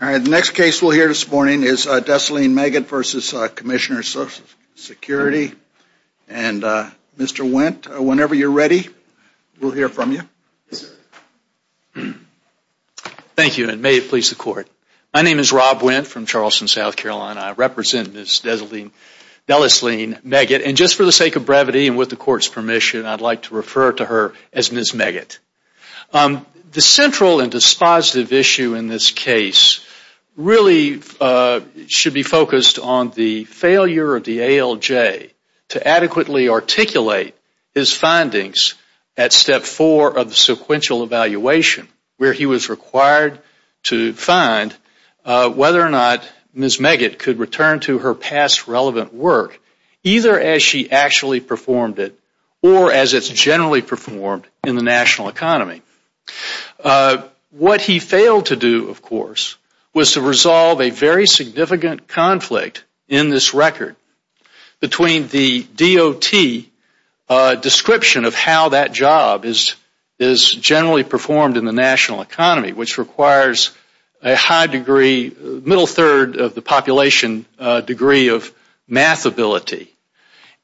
The next case we will hear this morning is Desline-Meggett v. Commissioner of Social Security. Mr. Wendt, whenever you are ready, we will hear from you. Thank you, and may it please the Court. My name is Rob Wendt from Charleston, South Carolina. I represent Ms. Desline-Meggett. Just for the sake of brevity and with the Court's permission, I would like to refer to her as Ms. Meggett. The central and dispositive issue in this case really should be focused on the failure of the ALJ to adequately articulate his findings at Step 4 of the sequential evaluation, where he was required to find whether or not Ms. Meggett could return to her past relevant work, either as she actually performed it or as it is generally performed in the national economy. What he failed to do, of course, was to resolve a very significant conflict in this record between the DOT description of how that job is generally performed in the national economy, which requires a middle third of the population degree of math ability,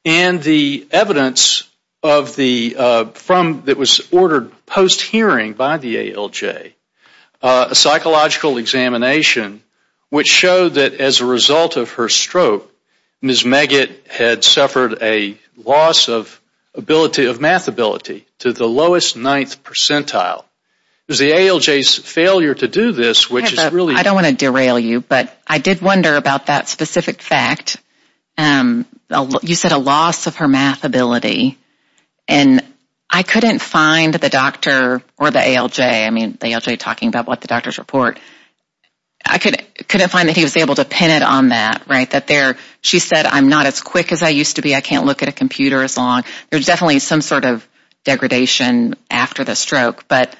and the evidence that was ordered post-hearing by the ALJ, a psychological examination which showed that as a result of her stroke, Ms. Meggett had suffered a loss of math ability to the lowest ninth percentile. It was the ALJ's failure to do this, which is really... I don't want to derail you, but I did wonder about that specific fact. You said a loss of her math ability, and I couldn't find the doctor or the ALJ, I mean the ALJ talking about what the doctors report. I couldn't find that he was able to pin it on that, right? That there, she said, I'm not as quick as I used to be. I can't look at a computer as long. There's definitely some sort of degradation after the stroke, but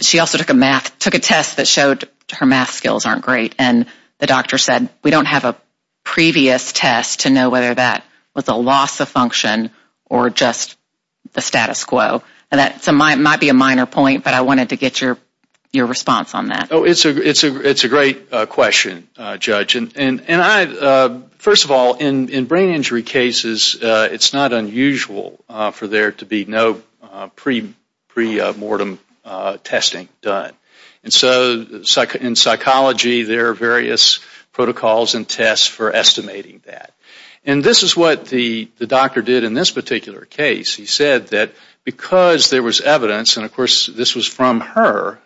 she also took a test that showed her math skills aren't great, and the doctor said we don't have a previous test to know whether that was a loss of function or just the status quo. That might be a minor point, but I wanted to get your response on that. It's a great question, Judge. First of all, in brain injury cases, it's not unusual for there to be no pre-mortem testing done. In psychology, there are various protocols and tests for estimating that. This is what the doctor did in this particular case. He said that because there was evidence, and of course this was from her,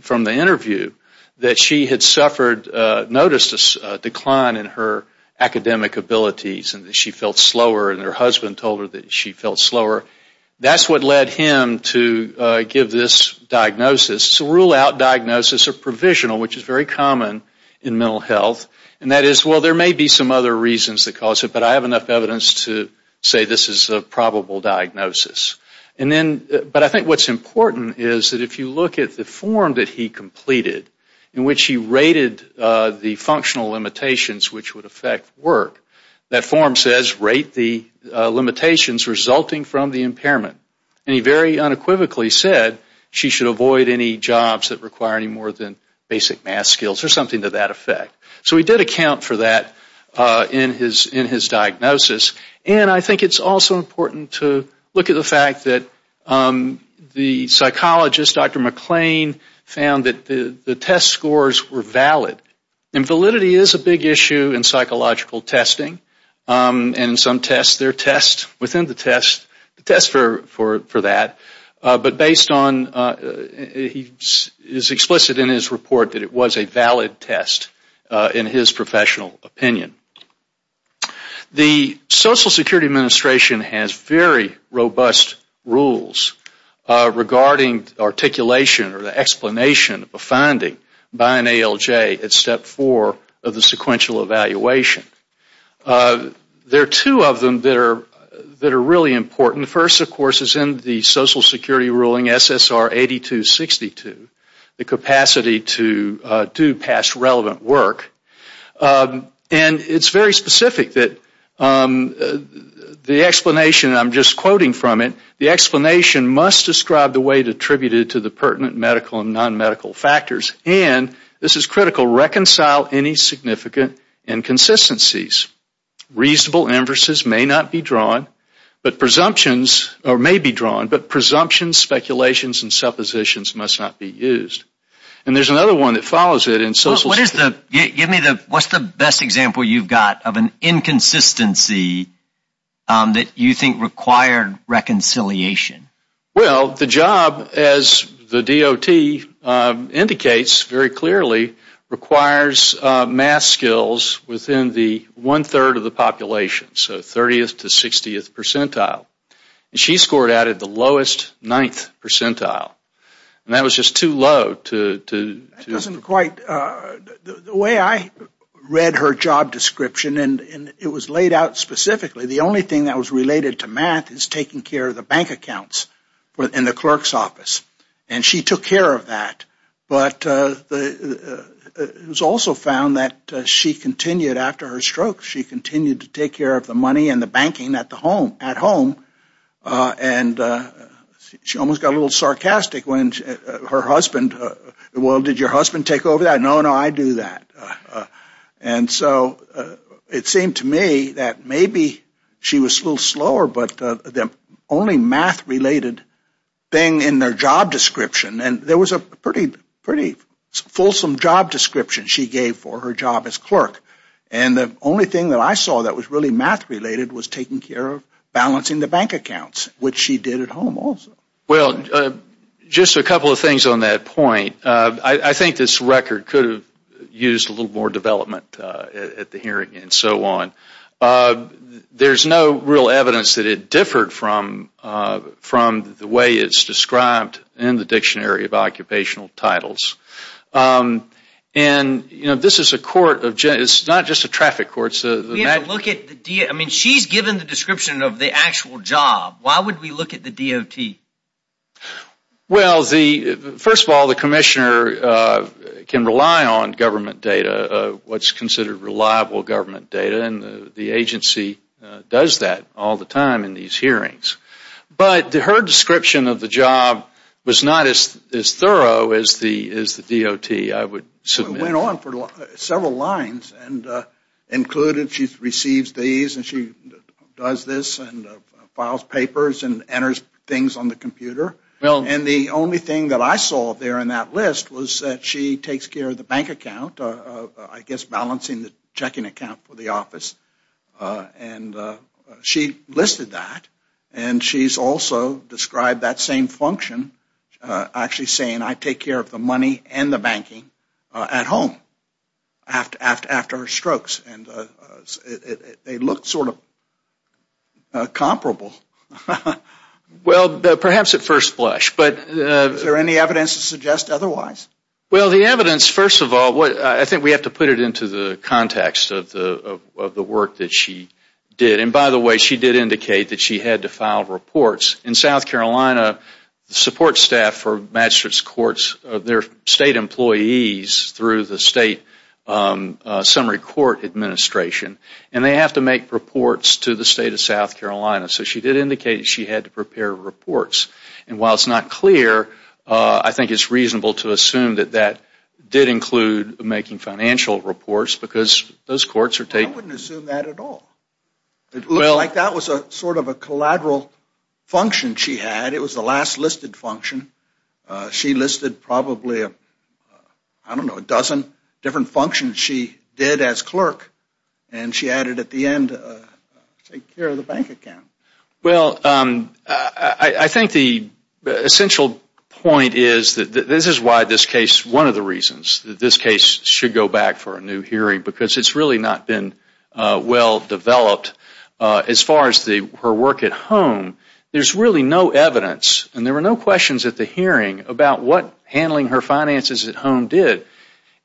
from the interview, that she had suffered, noticed a decline in her academic abilities and that she felt slower, and her husband told her that she felt slower. That's what led him to give this diagnosis. It's a rule-out diagnosis, a provisional, which is very common in mental health, and that is, well, there may be some other reasons that cause it, but I have enough evidence to say this is a probable diagnosis. But I think what's important is that if you look at the form that he completed in which he rated the functional limitations which would affect work, that form says rate the limitations resulting from the impairment. He very unequivocally said she should avoid any jobs that require any more than basic math skills or something to that effect. So he did account for that in his diagnosis, and I think it's also important to look at the fact that the psychologist, Dr. McClain, found that the test scores were valid. And validity is a big issue in psychological testing, and in some tests, there are tests within the test, tests for that, but based on, he is explicit in his report that it was a valid test in his professional opinion. The Social Security Administration has very robust rules regarding articulation or the explanation of a finding by an ALJ at step four of the sequential evaluation. There are two of them that are really important. The first, of course, is in the Social Security ruling SSR 8262, the capacity to do past relevant work. And it's very specific that the explanation, and I'm just quoting from it, the explanation must describe the weight attributed to the pertinent medical and nonmedical factors. And this is critical, reconcile any significant inconsistencies. Reasonable inverses may not be drawn, but presumptions, or may be drawn, but presumptions, speculations, and suppositions must not be used. And there's another one that follows it in Social Security. Give me the, what's the best example you've got of an inconsistency that you think required reconciliation? Well, the job, as the DOT indicates very clearly, requires math skills within the one-third of the population, so 30th to 60th percentile. And she scored out at the lowest ninth percentile. And that was just too low to... That doesn't quite, the way I read her job description, and it was laid out specifically, the only thing that was related to math is taking care of the bank accounts in the clerk's office. And she took care of that. But it was also found that she continued, after her stroke, she continued to take care of the money and the banking at home. And she almost got a little sarcastic when her husband, well, did your husband take over that? No, no, I do that. And so it seemed to me that maybe she was a little slower, but the only math-related thing in their job description, and there was a pretty fulsome job description she gave for her job as clerk. And the only thing that I saw that was really math-related was taking care of balancing the bank accounts, which she did at home also. Well, just a couple of things on that point. I think this record could have used a little more development at the hearing and so on. There's no real evidence that it differed from the way it's described in the Dictionary of Occupational Titles. And this is a court of, it's not just a traffic court. I mean, she's given the description of the actual job. Why would we look at the DOT? Well, first of all, the commissioner can rely on government data, what's considered reliable government data, and the agency does that all the time in these hearings. But her description of the job was not as thorough as the DOT, I would submit. She went on for several lines, and included she receives these, and she does this and files papers and enters things on the computer. And the only thing that I saw there in that list was that she takes care of the bank account, I guess balancing the checking account for the office. And she listed that, and she's also described that same function, actually saying I take care of the money and the banking at home after strokes. And they look sort of comparable. Well, perhaps at first blush. Is there any evidence to suggest otherwise? Well, the evidence, first of all, I think we have to put it into the context of the work that she did. And by the way, she did indicate that she had to file reports. In South Carolina, the support staff for Magistrate's Courts, they're state employees through the State Summary Court Administration, and they have to make reports to the State of South Carolina. So she did indicate she had to prepare reports. And while it's not clear, I think it's reasonable to assume that that did include making financial reports, because those courts are taking I wouldn't assume that at all. It looked like that was sort of a collateral function she had. It was the last listed function. She listed probably, I don't know, a dozen different functions she did as clerk, and she added at the end take care of the bank account. Well, I think the essential point is that this is why this case, one of the reasons that this case should go back for a new hearing, because it's really not been well developed as far as her work at home. There's really no evidence, and there were no questions at the hearing, about what handling her finances at home did.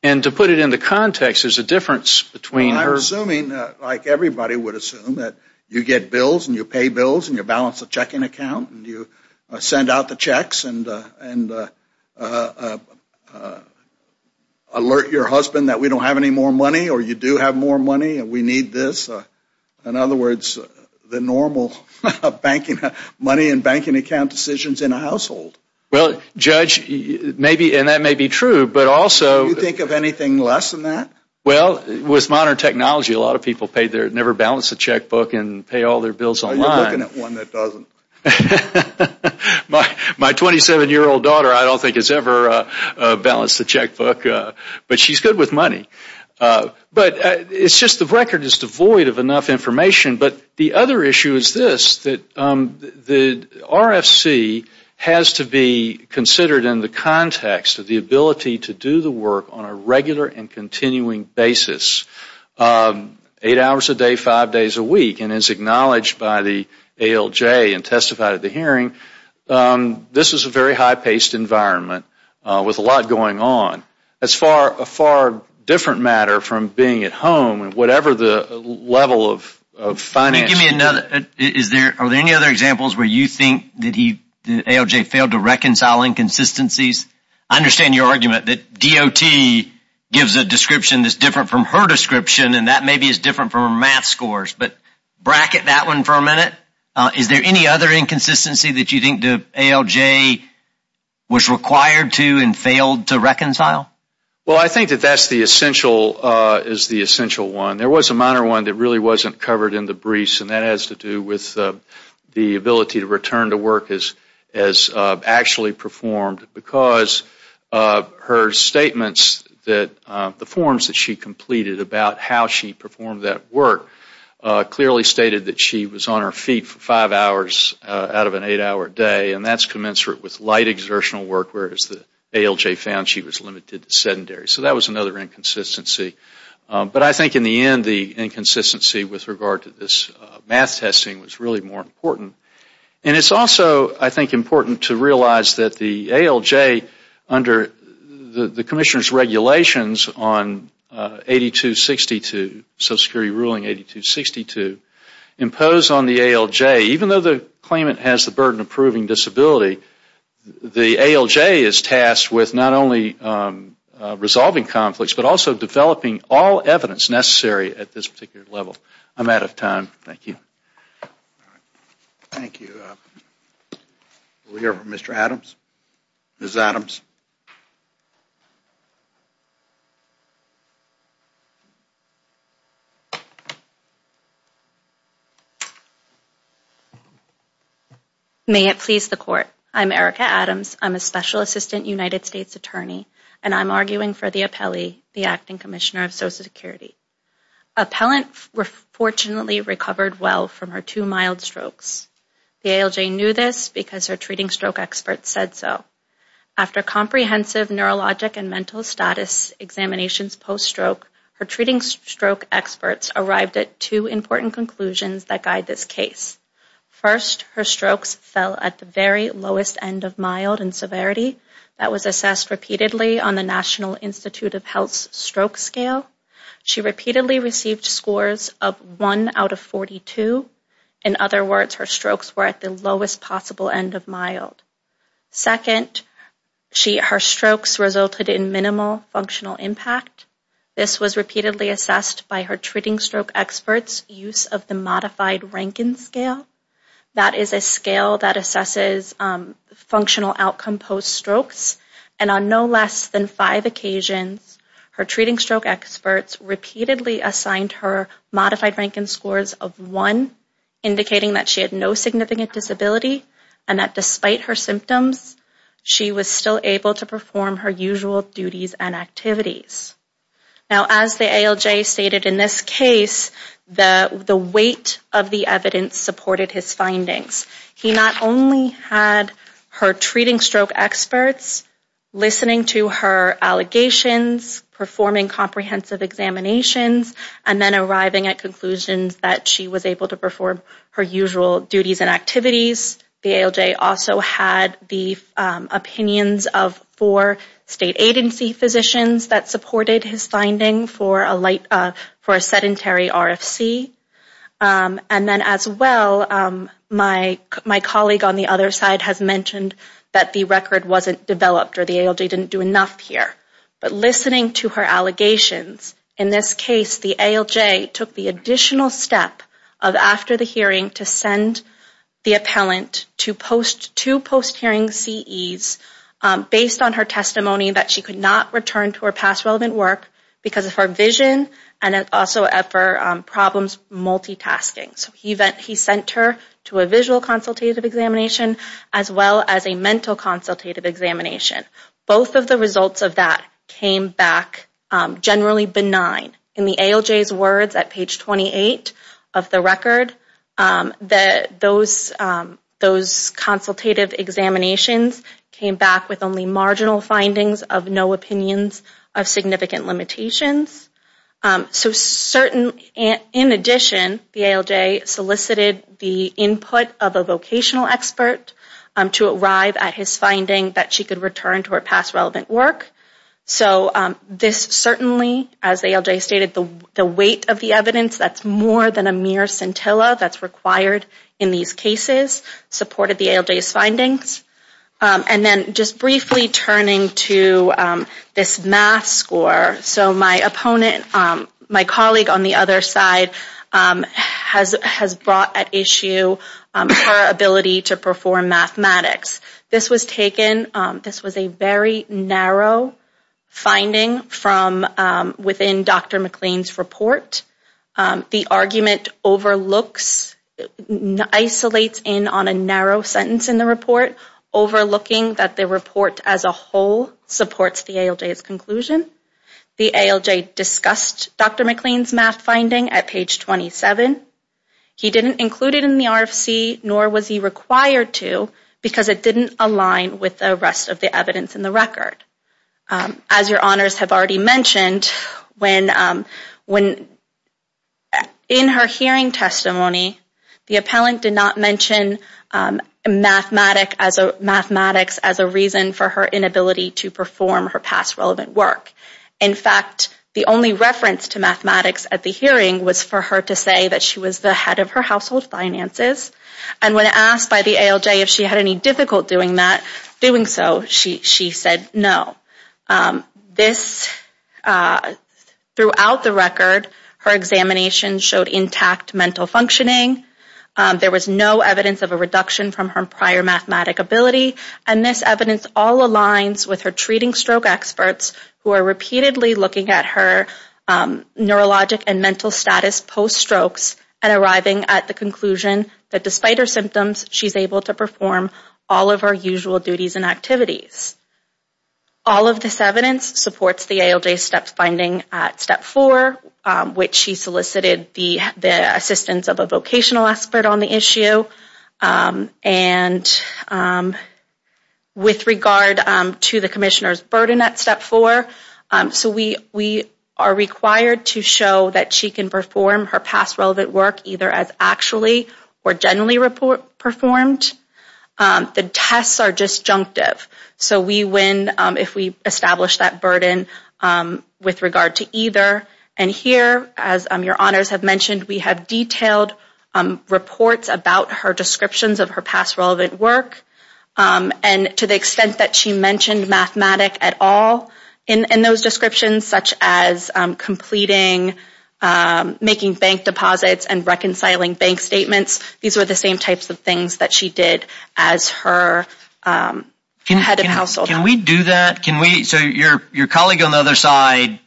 And to put it into context, there's a difference between her Well, I'm assuming, like everybody would assume, that you get bills and you pay bills and you balance a checking account and you send out the checks and alert your husband that we don't have any more money or you do have more money and we need this. In other words, the normal money and banking account decisions in a household. Well, Judge, and that may be true, but also Do you think of anything less than that? Well, with modern technology, a lot of people never balance a checkbook and pay all their bills online. I'm looking at one that doesn't. My 27-year-old daughter, I don't think has ever balanced a checkbook, but she's good with money. But it's just the record is devoid of enough information. But the other issue is this, that the RFC has to be considered in the context of the ability to do the work on a regular and continuing basis, eight hours a day, five days a week. And as acknowledged by the ALJ and testified at the hearing, this is a very high-paced environment with a lot going on. That's a far different matter from being at home and whatever the level of finance Can you give me another? Are there any other examples where you think the ALJ failed to reconcile inconsistencies? I understand your argument that DOT gives a description that's different from her description, and that maybe is different from her math scores. But bracket that one for a minute. Is there any other inconsistency that you think the ALJ was required to and failed to reconcile? Well, I think that that's the essential one. There was a minor one that really wasn't covered in the briefs, and that has to do with the ability to return to work as actually performed because her statements that the forms that she completed about how she performed that work clearly stated that she was on her feet for five hours out of an eight-hour day, and that's commensurate with light exertional work, whereas the ALJ found she was limited to sedentary. So that was another inconsistency. But I think in the end, the inconsistency with regard to this math testing was really more important. And it's also, I think, important to realize that the ALJ, under the Commissioner's regulations on 8262, Social Security Ruling 8262, imposed on the ALJ, even though the claimant has the burden of proving disability, the ALJ is tasked with not only resolving conflicts, but also developing all evidence necessary at this particular level. I'm out of time. Thank you. Thank you. We'll hear from Mr. Adams. Ms. Adams. May it please the Court. I'm Erica Adams. I'm a Special Assistant United States Attorney, and I'm arguing for the appellee, the Acting Commissioner of Social Security. Appellant fortunately recovered well from her two mild strokes. The ALJ knew this because her treating stroke experts said so. After comprehensive neurologic and mental status examinations post-stroke, her treating stroke experts arrived at two important conclusions that guide this case. First, her strokes fell at the very lowest end of mild in severity. That was assessed repeatedly on the National Institute of Health's Treating Stroke Scale. She repeatedly received scores of 1 out of 42. In other words, her strokes were at the lowest possible end of mild. Second, her strokes resulted in minimal functional impact. This was repeatedly assessed by her treating stroke experts' use of the Modified Rankin Scale. That is a scale that assesses functional outcome post-strokes. And on no less than five occasions, her treating stroke experts repeatedly assigned her Modified Rankin Scores of 1, indicating that she had no significant disability and that despite her symptoms, she was still able to perform her usual duties and activities. Now, as the ALJ stated in this case, the weight of the evidence supported his findings. He not only had her treating stroke experts listening to her allegations, performing comprehensive examinations, and then arriving at conclusions that she was able to perform her usual duties and activities. The ALJ also had the opinions of four state agency physicians that supported his finding for a sedentary RFC. And then as well, my colleague on the other side has mentioned that the record wasn't developed or the ALJ didn't do enough here. But listening to her allegations, in this case, the ALJ took the additional step of after the hearing to send the appellant to two post-hearing CEs based on her testimony that she could not return to her past relevant work because of her vision and also for problems multitasking. So he sent her to a visual consultative examination as well as a mental consultative examination. Both of the results of that came back generally benign. In the ALJ's words at page 28 of the record, those consultative examinations came back with only marginal findings of no opinions of significant limitations. So in addition, the ALJ solicited the input of a vocational expert to arrive at his finding that she could return to her past relevant work. So this certainly, as the ALJ stated, the weight of the evidence, that's more than a mere scintilla And then just briefly turning to this math score. So my opponent, my colleague on the other side has brought at issue her ability to perform mathematics. This was taken, this was a very narrow finding from within Dr. McLean's report. The argument overlooks, isolates in on a narrow sentence in the report, overlooking that the report as a whole supports the ALJ's conclusion. The ALJ discussed Dr. McLean's math finding at page 27. He didn't include it in the RFC, nor was he required to because it didn't align with the rest of the evidence in the record. As your honors have already mentioned, when in her hearing testimony, the appellant did not mention mathematics as a reason for her inability to perform her past relevant work. In fact, the only reference to mathematics at the hearing was for her to say that she was the head of her household finances. And when asked by the ALJ if she had any difficulty doing so, she said no. This, throughout the record, her examination showed intact mental functioning. There was no evidence of a reduction from her prior mathematic ability. And this evidence all aligns with her treating stroke experts who are repeatedly looking at her neurologic and mental status post-strokes and arriving at the conclusion that despite her symptoms, she's able to perform all of her usual duties and activities. All of this evidence supports the ALJ's steps finding at step four, which she solicited the assistance of a vocational expert on the issue. And with regard to the commissioner's burden at step four, so we are required to show that she can perform her past relevant work either as actually or generally performed. The tests are disjunctive. So we win if we establish that burden with regard to either. And here, as your honors have mentioned, we have detailed reports about her descriptions of her past relevant work. And to the extent that she mentioned mathematic at all in those descriptions, such as completing, making bank deposits, and reconciling bank statements, these were the same types of things that she did as her head of household. Can we do that? So your colleague on the other side,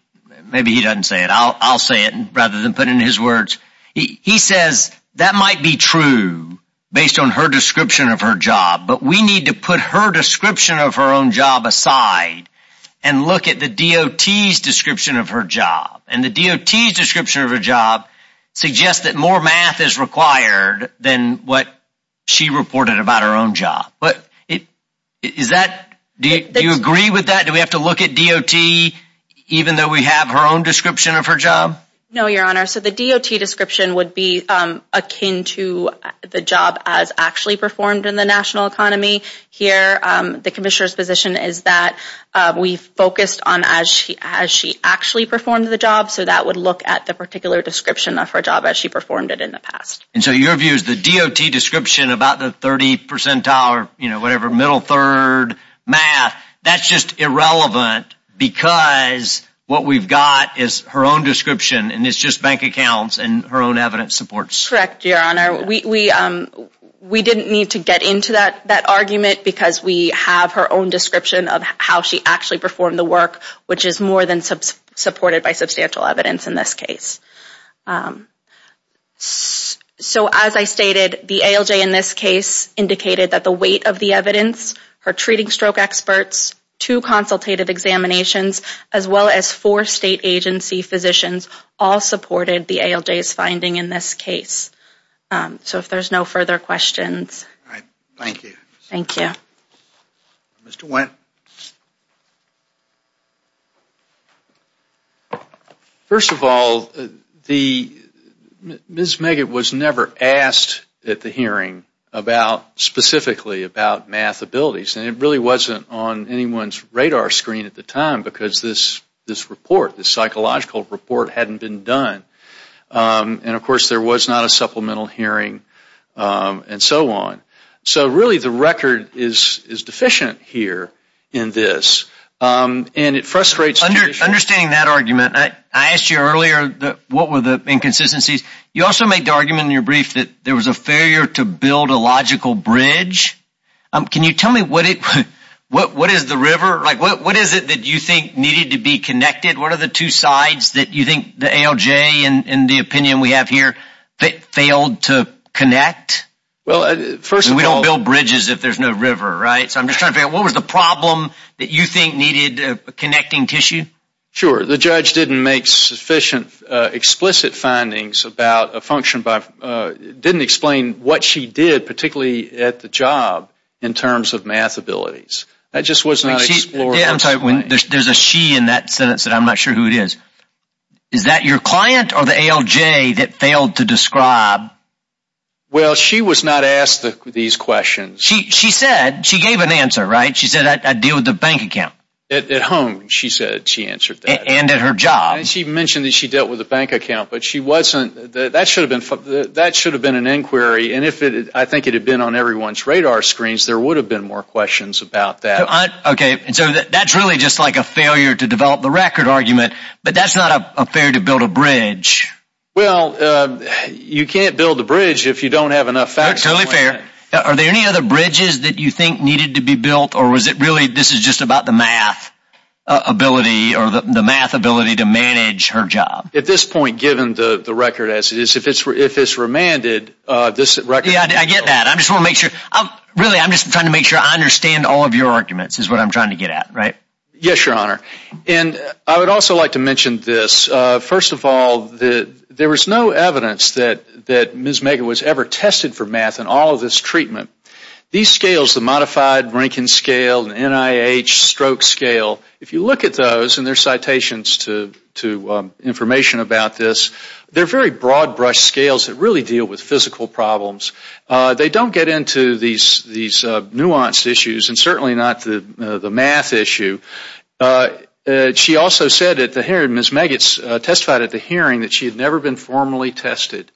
maybe he doesn't say it. I'll say it rather than put in his words. He says that might be true based on her description of her job. But we need to put her description of her own job aside and look at the DOT's description of her job. And the DOT's description of her job suggests that more math is required than what she reported about her own job. Do you agree with that? Do we have to look at DOT even though we have her own description of her job? No, your honor. So the DOT description would be akin to the job as actually performed in the national economy. Here, the commissioner's position is that we focused on as she actually performed the job. So that would look at the particular description of her job as she performed it in the past. And so your view is the DOT description, about the 30 percentile or whatever, middle third math, that's just irrelevant because what we've got is her own description and it's just bank accounts and her own evidence supports. Correct, your honor. We didn't need to get into that argument because we have her own description of how she actually performed the work, which is more than supported by substantial evidence in this case. So as I stated, the ALJ in this case indicated that the weight of the evidence, her treating stroke experts, two consultative examinations, as well as four state agency physicians all supported the ALJ's finding in this case. So if there's no further questions. All right. Thank you. Thank you. Mr. Wendt. First of all, Ms. Meggett was never asked at the hearing specifically about math abilities. And it really wasn't on anyone's radar screen at the time because this report, this psychological report hadn't been done. And of course there was not a supplemental hearing and so on. So really the record is deficient here in this. And it frustrates me. Understanding that argument, I asked you earlier what were the inconsistencies. You also made the argument in your brief that there was a failure to build a logical bridge. Can you tell me what is the river? What is it that you think needed to be connected? What are the two sides that you think the ALJ, in the opinion we have here, failed to connect? Well, first of all. We don't build bridges if there's no river, right? So I'm just trying to figure out what was the problem that you think needed connecting tissue? Sure. The judge didn't make sufficient explicit findings about a function by, didn't explain what she did, particularly at the job, in terms of math abilities. That just was not explored. I'm sorry, there's a she in that sentence that I'm not sure who it is. Is that your client or the ALJ that failed to describe? Well, she was not asked these questions. She said, she gave an answer, right? She said, I deal with the bank account. At home, she said she answered that. And at her job. And she mentioned that she dealt with the bank account, but she wasn't, that should have been an inquiry, and if I think it had been on everyone's radar screens, there would have been more questions about that. Okay, so that's really just like a failure to develop the record argument, but that's not fair to build a bridge. Well, you can't build a bridge if you don't have enough facts. That's totally fair. Are there any other bridges that you think needed to be built, or was it really, this is just about the math ability, or the math ability to manage her job? At this point, given the record as it is, if it's remanded, this record... Yeah, I get that. I just want to make sure, really, I'm just trying to make sure I understand all of your arguments, is what I'm trying to get at, right? Yes, Your Honor. And I would also like to mention this. First of all, there was no evidence that Ms. Megan was ever tested for math in all of this treatment. These scales, the Modified Rankin Scale, the NIH Stroke Scale, if you look at those, and there's citations to information about this, they're very broad-brush scales that really deal with physical problems. They don't get into these nuanced issues, and certainly not the math issue. She also said at the hearing, Ms. Maggots testified at the hearing that she had never been formally tested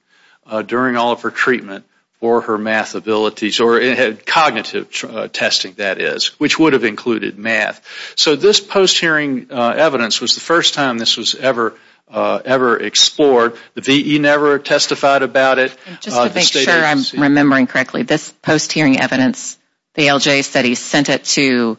during all of her treatment for her math abilities, or had cognitive testing, that is, which would have included math. So this post-hearing evidence was the first time this was ever explored. The V.E. never testified about it. Just to make sure I'm remembering correctly, this post-hearing evidence, the ALJ said he sent it to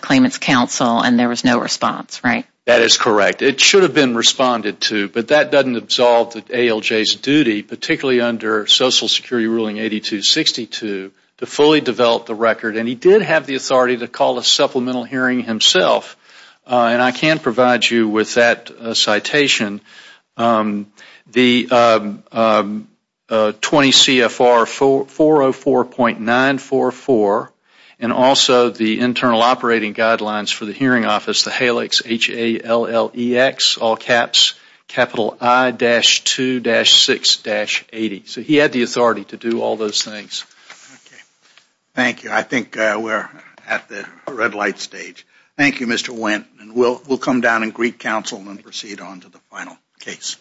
claimant's counsel, and there was no response, right? That is correct. It should have been responded to, but that doesn't absolve the ALJ's duty, particularly under Social Security Ruling 8262, to fully develop the record. And he did have the authority to call a supplemental hearing himself, and I can provide you with that citation. The 20 CFR 404.944, and also the internal operating guidelines for the hearing office, that's the HALEX, H-A-L-L-E-X, all caps, capital I-2-6-80. So he had the authority to do all those things. Thank you. I think we're at the red light stage. Thank you, Mr. Wendt. We'll come down and greet counsel and proceed on to the final case.